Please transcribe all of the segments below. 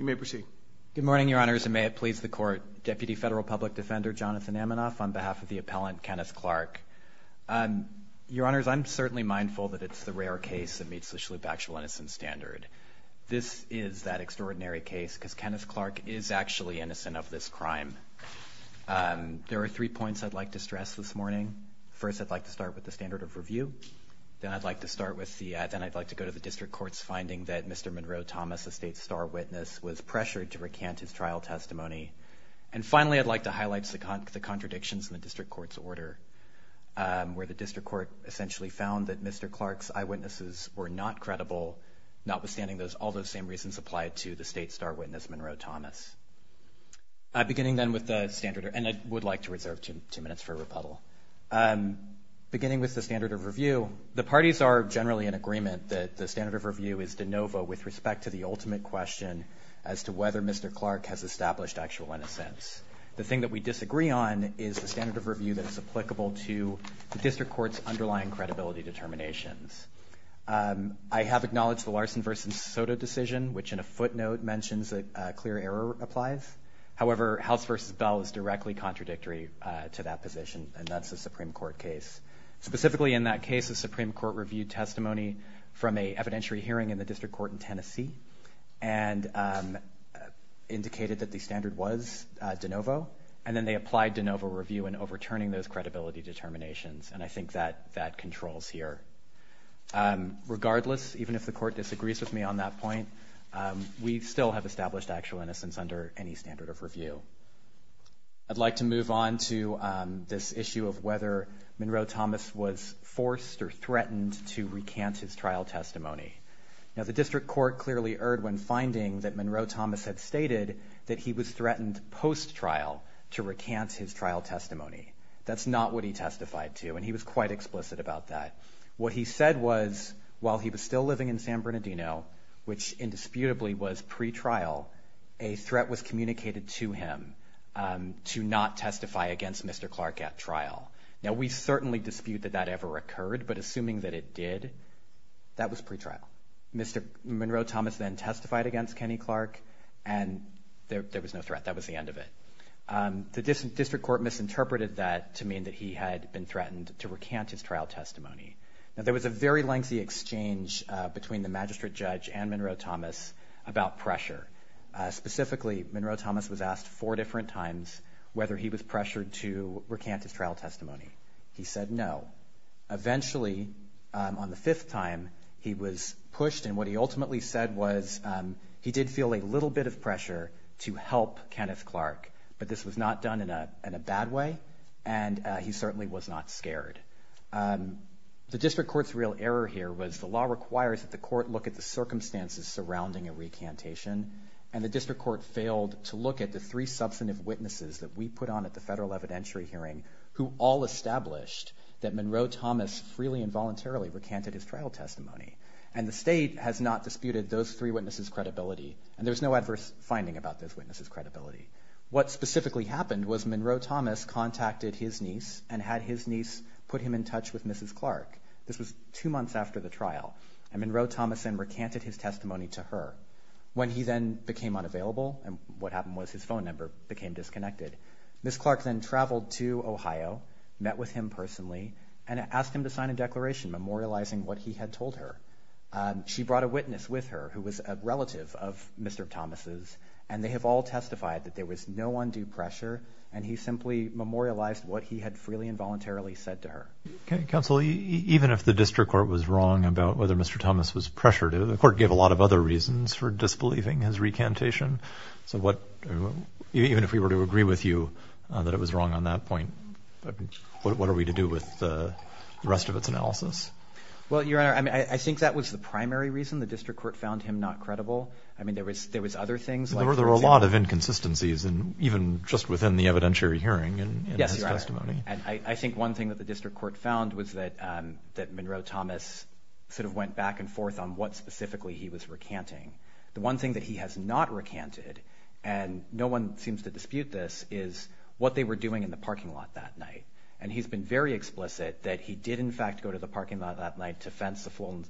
Good morning, Your Honors, and may it please the Court, Deputy Federal Public Defender Jonathan Amanoff on behalf of the appellant, Kenneth Clark. Your Honors, I'm certainly mindful that it's the rare case that meets the Shalhoub Actual Innocence Standard. This is that extraordinary case because Kenneth Clark is actually innocent of this crime. There are three points I'd like to stress this morning. First, I'd like to start with the standard of review. Then I'd like to go to the District Court's finding that Mr. Monroe Thomas, a state star witness, was pressured to recant his trial testimony. And finally, I'd like to highlight the contradictions in the District Court's order, where the District Court essentially found that Mr. Clark's eyewitnesses were not credible, notwithstanding all those same reasons applied to the state star witness, Monroe Thomas. Beginning then with the standard, and I would like to reserve two minutes for rebuttal. Beginning with the standard of review, the parties are generally in agreement that the standard of review is de novo with respect to the ultimate question as to whether Mr. Clark has established actual innocence. The thing that we disagree on is the standard of review that is applicable to the District Court's underlying credibility determinations. I have acknowledged the Larson v. Soto decision, which in a footnote mentions that clear error applies. However, House v. Bell is directly contradictory to that position, and that's a Supreme Court case. Specifically in that case, the Supreme Court reviewed testimony from a evidentiary hearing in the District Court in Tennessee, and indicated that the standard was de novo. And then they applied de novo review in overturning those credibility determinations, and I think that that controls here. Regardless, even if the Court disagrees with me on that point, we still have established actual innocence under any standard of review. I'd like to move on to this issue of whether Monroe Thomas was forced or threatened to recant his trial testimony. Now, the District Court clearly erred when finding that Monroe Thomas had stated that he was threatened post-trial to recant his trial testimony. That's not what he testified to, and he was quite explicit about that. What he said was, while he was still living in San Bernardino, which indisputably was pre-trial, a threat was communicated to him to not testify against Mr. Clark at trial. Now, we certainly dispute that that ever occurred, but assuming that it did, that was pre-trial. Mr. Monroe Thomas then testified against Kenny Clark, and there was no threat. That was the end of it. The District Court misinterpreted that to mean that he had been threatened to recant his trial testimony. Now, there was a very lengthy exchange between the Magistrate Judge and Monroe Thomas about pressure. Specifically, Monroe Thomas was asked four different times whether he was pressured to recant his trial testimony. He said no. Eventually, on the fifth time, he was pushed, and what he ultimately said was he did feel a little bit of pressure to help Kenneth Clark, but this was not done in a bad way, and he certainly was not scared. The District Court's real error here was the law requires that the court look at the circumstances surrounding a recantation, and the District Court failed to look at the three substantive witnesses that we put on at the federal evidentiary hearing who all established that Monroe Thomas freely and voluntarily recanted his trial testimony. The state has not disputed those three witnesses' credibility, and there's no adverse finding about those witnesses' credibility. What specifically happened was Monroe Thomas contacted his niece and had his niece put him in touch with Mrs. Clark. This was two months after the trial, and Monroe Thomas then recanted his testimony to her. When he then became unavailable, and what happened was his phone number became disconnected, Ms. Clark then traveled to Ohio, met with him personally, and asked him to sign a declaration memorializing what he had told her. She brought a witness with her who was a relative of Mr. Thomas's, and they have all testified that there was no undue pressure, and he simply memorialized what he had freely and voluntarily said to her. Okay. Counsel, even if the District Court was wrong about whether Mr. Thomas was pressured, the court gave a lot of other reasons for disbelieving his recantation. So what, even if we were to agree with you that it was wrong on that point, what are we to do with the rest of its analysis? Well, Your Honor, I think that was the primary reason the District Court found him not credible. I mean, there was other things like... There were a lot of inconsistencies, even just within the evidentiary hearing in his testimony. I think one thing that the District Court found was that Monroe Thomas sort of went back and forth on what specifically he was recanting. The one thing that he has not recanted, and no one seems to dispute this, is what they were doing in the parking lot that night. And he's been very explicit that he did, in fact, go to the parking lot that night to fence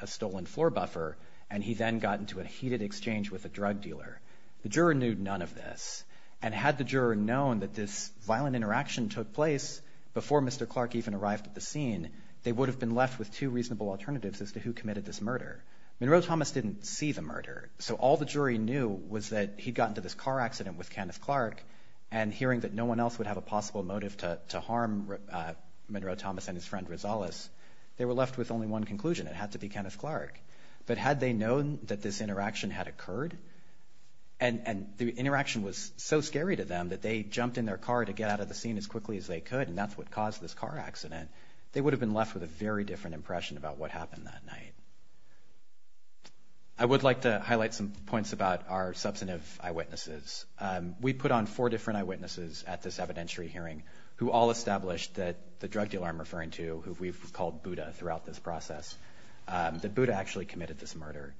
a stolen floor buffer, and he then got into a heated exchange with a drug dealer. The juror knew none of this, and had the juror known that this violent interaction took place before Mr. Clark even arrived at the scene, they would have been left with two reasonable alternatives as to who committed this murder. Monroe Thomas didn't see the murder, so all the jury knew was that he'd gotten into this car accident with Candace Clark, and hearing that no one else would have a possible motive to harm Monroe Thomas and his friend Rosales, they were left with only one conclusion. It had to be Candace Clark. But had they known that this interaction had occurred, and the interaction was so scary to them that they jumped in their car to get out of the scene as quickly as they could, and that's what caused this car accident, they would have been left with a very different impression about what happened that night. I would like to highlight some points about our substantive eyewitnesses. We put on four different eyewitnesses at this evidentiary hearing who all established that the drug dealer I'm referring to, who we've called Buddha throughout this process, that Buddha actually committed this murder.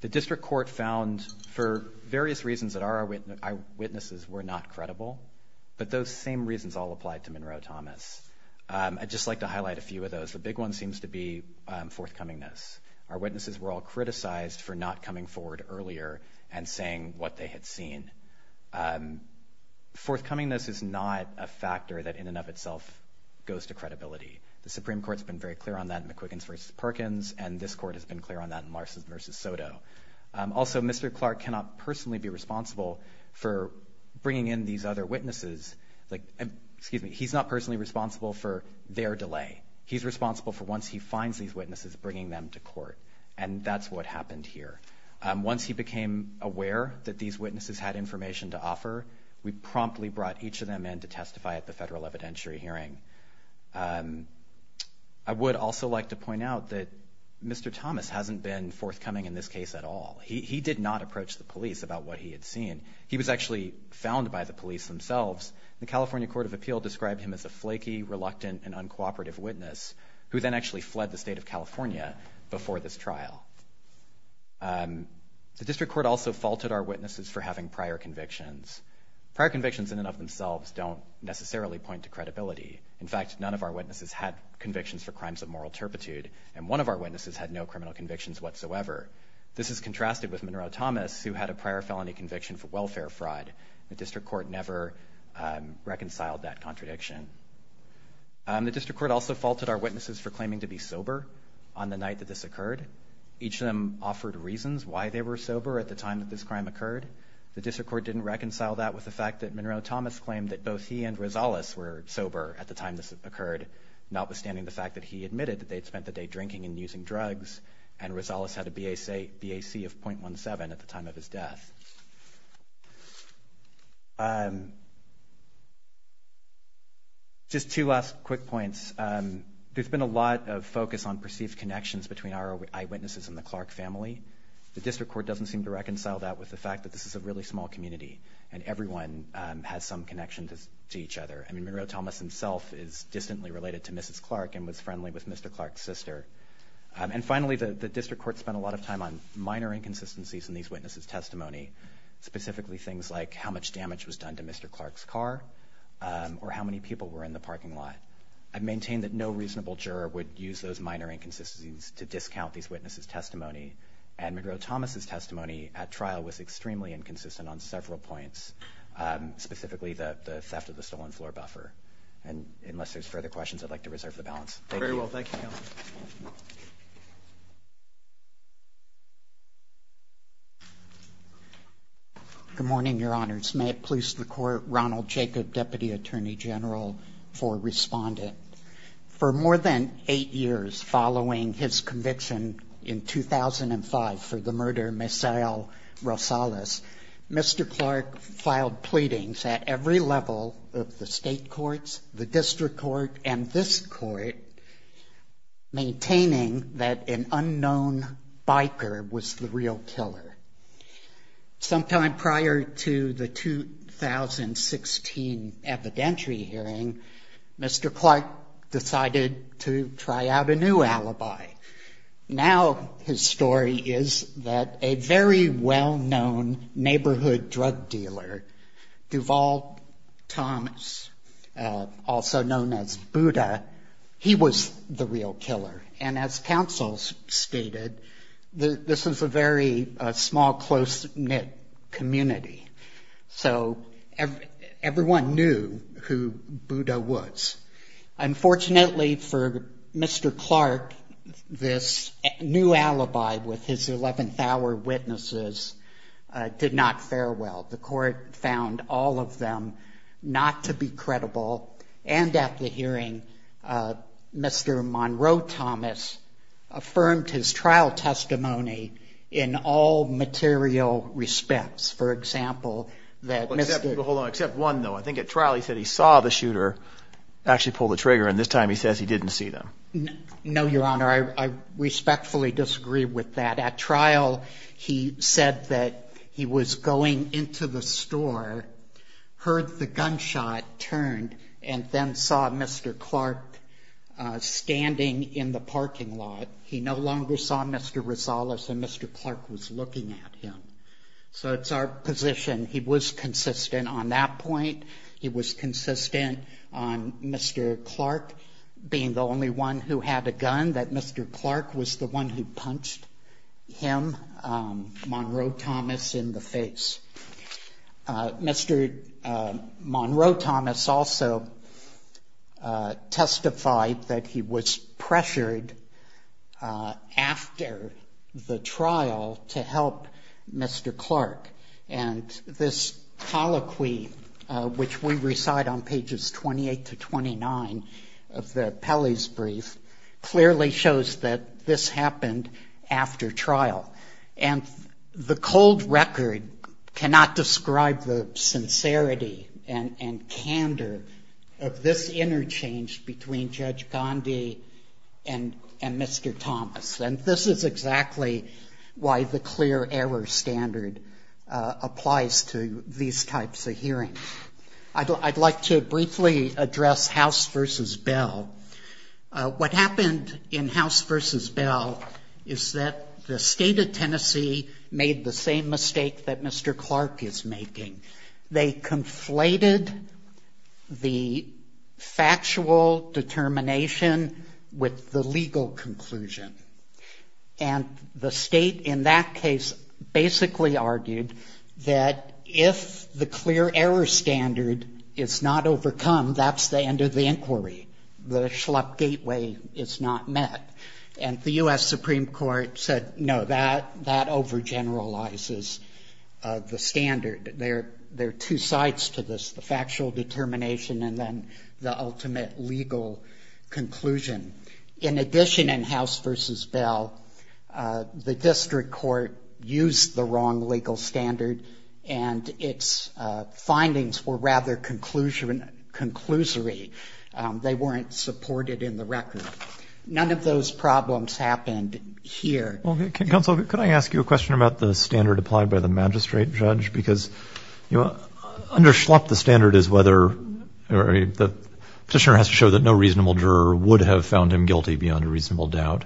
The district court found for various reasons that our eyewitnesses were not credible, but those same reasons all applied to Monroe Thomas. I'd just like to highlight a few of those. The big one seems to be forthcomingness. Our witnesses were all criticized for not coming forward earlier and saying what they had seen. Forthcomingness is not a factor that in and of itself goes to credibility. The Supreme Court's been very clear on that in McQuiggins versus Perkins, and this court has been clear on that in Larsons versus Soto. Also, Mr. Clark cannot personally be responsible for bringing in these other witnesses. Excuse me, he's not personally responsible for their delay. He's responsible for once he finds these witnesses, bringing them to court. That's what happened here. Once he became aware that these witnesses had information to offer, we promptly brought each of them in to testify at the federal evidentiary hearing. I would also like to point out that Mr. Thomas hasn't been forthcoming in this case at all. He did not approach the police about what he had seen. He was actually found by the police themselves. The California Court of Appeal described him as a flaky, reluctant, and uncooperative witness, who then actually fled the state of California before this trial. The district court also faulted our witnesses for having prior convictions. Prior convictions in and of themselves don't necessarily point to credibility. In fact, none of our witnesses had convictions for crimes of moral turpitude, and one of our witnesses had no criminal convictions whatsoever. This is contrasted with Monroe Thomas, who had a prior felony conviction for welfare fraud. The district court never reconciled that contradiction. The district court also faulted our witnesses for claiming to be sober on the night that this occurred. Each of them offered reasons why they were sober at the time that this crime occurred. The district court didn't reconcile that with the fact that Monroe Thomas claimed that both he and Rosales were sober at the time this occurred, notwithstanding the fact that he admitted that they'd spent the day drinking and using drugs, and Rosales had a BAC of .17 at the time of his death. Just two last quick points. There's been a lot of focus on perceived connections between our eyewitnesses and the Clark family. The district court doesn't seem to reconcile that with the fact that this is a really small community, and everyone has some connection to each other. I mean, Monroe Thomas himself is distantly related to Mrs. Clark and was of time on minor inconsistencies in these witnesses' testimony, specifically things like how much damage was done to Mr. Clark's car, or how many people were in the parking lot. I've maintained that no reasonable juror would use those minor inconsistencies to discount these witnesses' testimony, and Monroe Thomas' testimony at trial was extremely inconsistent on several points, specifically the theft of the stolen floor buffer. And unless there's further questions, I'd like to reserve the balance. Thank you. Good morning, Your Honors. May it please the Court, Ronald Jacob, Deputy Attorney General for Respondent. For more than eight years following his conviction in 2005 for the murder of Ms. Rosales, Mr. Clark filed pleadings at every level of the state courts, the district court and this court, maintaining that an unknown biker was the real killer. Sometime prior to the 2016 evidentiary hearing, Mr. Clark decided to try out a new alibi. Now his story is that a very well-known neighborhood drug dealer, Duval Thomas, also known as Buddha, he was the real killer. And as counsels stated, this was a very small, close-knit community. So everyone knew who Buddha was. Unfortunately for Mr. Clark, this new alibi with his 11th hour witnesses did not fare well. The court found all of them not to be credible, and at the hearing, Mr. Monroe Thomas affirmed his trial testimony in all material respects. For example, that Mr. Hold on. Except one, though. I think at trial he said he saw the shooter actually pull the trigger, and this time he says he didn't see them. No, Your Honor. I respectfully disagree with that. At trial, he said that he was going into the store, heard the gunshot turned, and then saw Mr. Clark standing in the parking lot. He no longer saw Mr. Rosales, and Mr. Clark was looking at him. So it's our position, he was consistent on that point. He was consistent on Mr. Clark being the only one who had a gun, that Mr. Clark was the one who punched him, Monroe Thomas, in the face. Mr. Monroe Thomas also testified that he was pressured after the trial to help Mr. Clark, and this colloquy, which we recite on pages 28 to 29 of the Pele's brief, clearly shows that this of this interchange between Judge Gandhi and Mr. Thomas. And this is exactly why the clear error standard applies to these types of hearings. I'd like to briefly address House v. Bell. What happened in House v. Bell is that the state of Tennessee made the same mistake that the factual determination with the legal conclusion. And the state in that case basically argued that if the clear error standard is not overcome, that's the end of the inquiry. The schlup gateway is not met. And the U.S. Supreme Court said, no, that overgeneralizes the standard. There are two sides to this, the factual determination and then the ultimate legal conclusion. In addition, in House v. Bell, the district court used the wrong legal standard, and its findings were rather conclusory. They weren't supported in the record. None of those problems happened here. Well, counsel, could I ask you a question about the standard applied by the magistrate judge? Because under schlup, the standard is whether the petitioner has to show that no reasonable juror would have found him guilty beyond a reasonable doubt.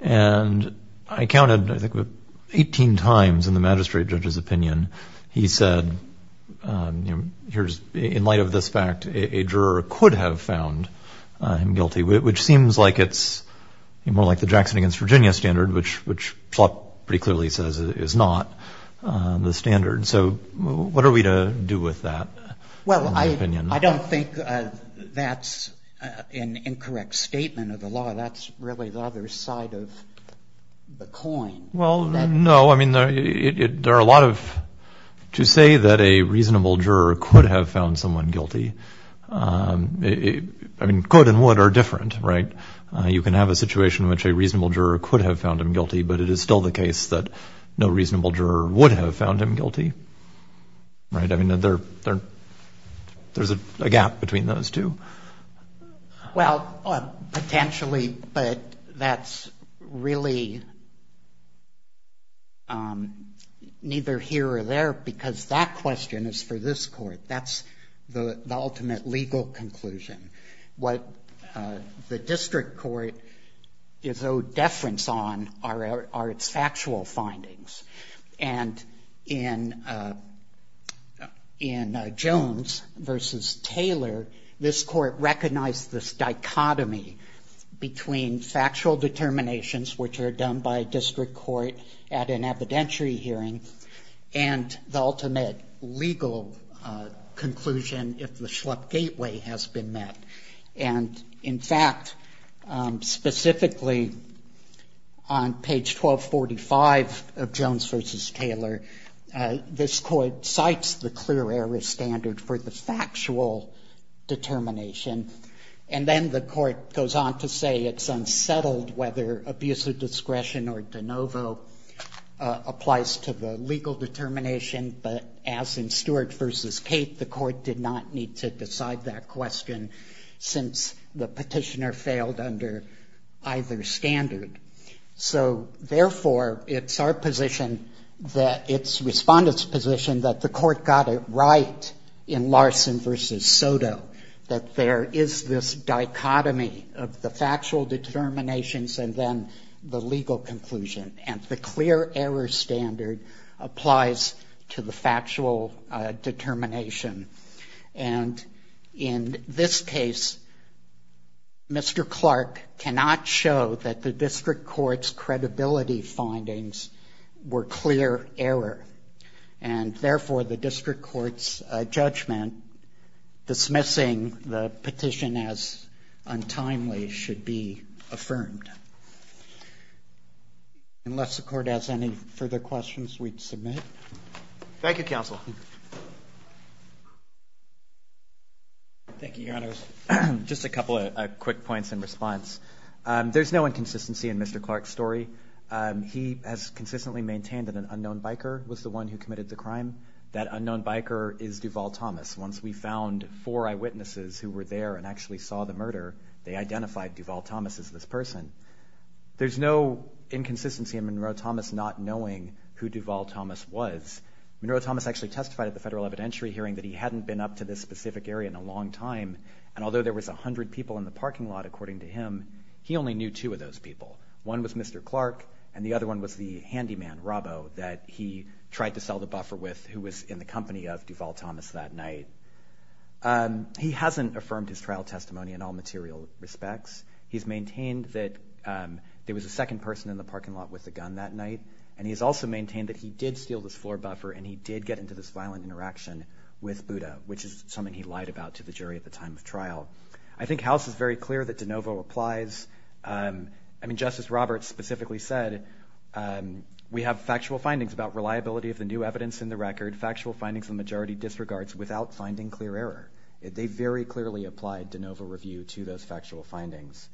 And I counted, I think, 18 times in the magistrate judge's opinion. He said, in light of this fact, a juror could have found him guilty, which seems like it's more like the Jackson against Virginia standard, which schlup pretty clearly says is not the standard. So what are we to do with that? Well, I don't think that's an incorrect statement of the law. That's really the other side of the coin. Well, no, I mean, there are a lot of... To say that a reasonable juror could have found someone guilty, I mean, could and would are different, right? You can have a situation in which a reasonable juror could have found him guilty, but it is still the case that no reasonable juror would have found him guilty, right? I mean, there's a gap between those two. Well, potentially, but that's really neither here or there because that question is for this court. That's the ultimate legal conclusion. What the district court is owed deference on are its factual findings. And in Jones v. Taylor, this court recognized this dichotomy between factual determinations, which are done by district court at an evidentiary hearing, and the ultimate legal conclusion if the Schlupp gateway has been met. And in fact, specifically on page 1245 of Jones v. Taylor, this court cites the clear error standard for the factual determination. And then the court goes on to say it's unsettled whether abuse of discretion or de novo applies to the court did not need to decide that question since the petitioner failed under either standard. So therefore, it's our position that it's respondent's position that the court got it right in Larson v. Soto, that there is this dichotomy of the factual determinations and then the legal conclusion. And the clear error standard applies to the factual determination. And in this case, Mr. Clark cannot show that the district court's credibility findings were clear error. And therefore, the district court's judgment dismissing the petition as untimely should be confirmed. Unless the court has any further questions, we'd submit. Thank you, counsel. Thank you, Your Honors. Just a couple of quick points in response. There's no inconsistency in Mr. Clark's story. He has consistently maintained that an unknown biker was the one who committed the crime. That unknown biker is Duval Thomas. Once we found four eyewitnesses who were there and actually saw the murder, they identified Duval Thomas as this person. There's no inconsistency in Monroe Thomas not knowing who Duval Thomas was. Monroe Thomas actually testified at the federal evidentiary hearing that he hadn't been up to this specific area in a long time. And although there was a hundred people in the parking lot, according to him, he only knew two of those people. One was Mr. Clark, and the other one was the handyman, Robbo, that he tried to sell the buffer with who was in the company of Duval Thomas that night. He hasn't affirmed his trial testimony in all material respects. He's maintained that there was a second person in the parking lot with the gun that night, and he's also maintained that he did steal this floor buffer and he did get into this violent interaction with Buddha, which is something he lied about to the jury at the time of trial. I think House is very clear that De Novo applies. I mean, Justice Roberts specifically said, we have factual findings about reliability of the new evidence in the record, factual findings the majority disregards without finding clear error. They very clearly applied De Novo review to those factual findings.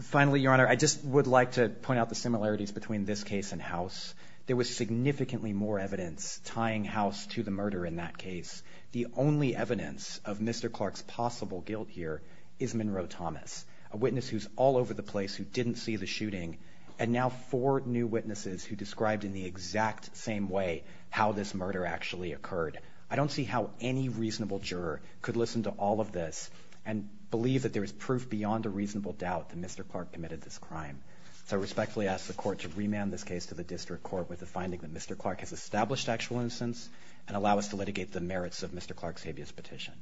Finally, Your Honor, I just would like to point out the similarities between this case and House. There was significantly more evidence tying House to the murder in that case. The only evidence of Mr. Clark's possible guilt here is Monroe Thomas, a witness who's all over the place who didn't see the shooting, and now four new witnesses who described in the exact same way how this murder actually occurred. I don't see how any reasonable juror could listen to all of this and believe that there is proof beyond a reasonable doubt that Mr. Clark committed this crime. So I respectfully ask the Court to remand this case to the District Court with the finding that Mr. Clark has established actual innocence and allow us to litigate the merits of Mr. Clark's habeas petition.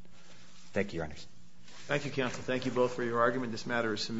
Thank you, Your Honor. Thank you, counsel. Thank you both for your argument. This matter is submitted.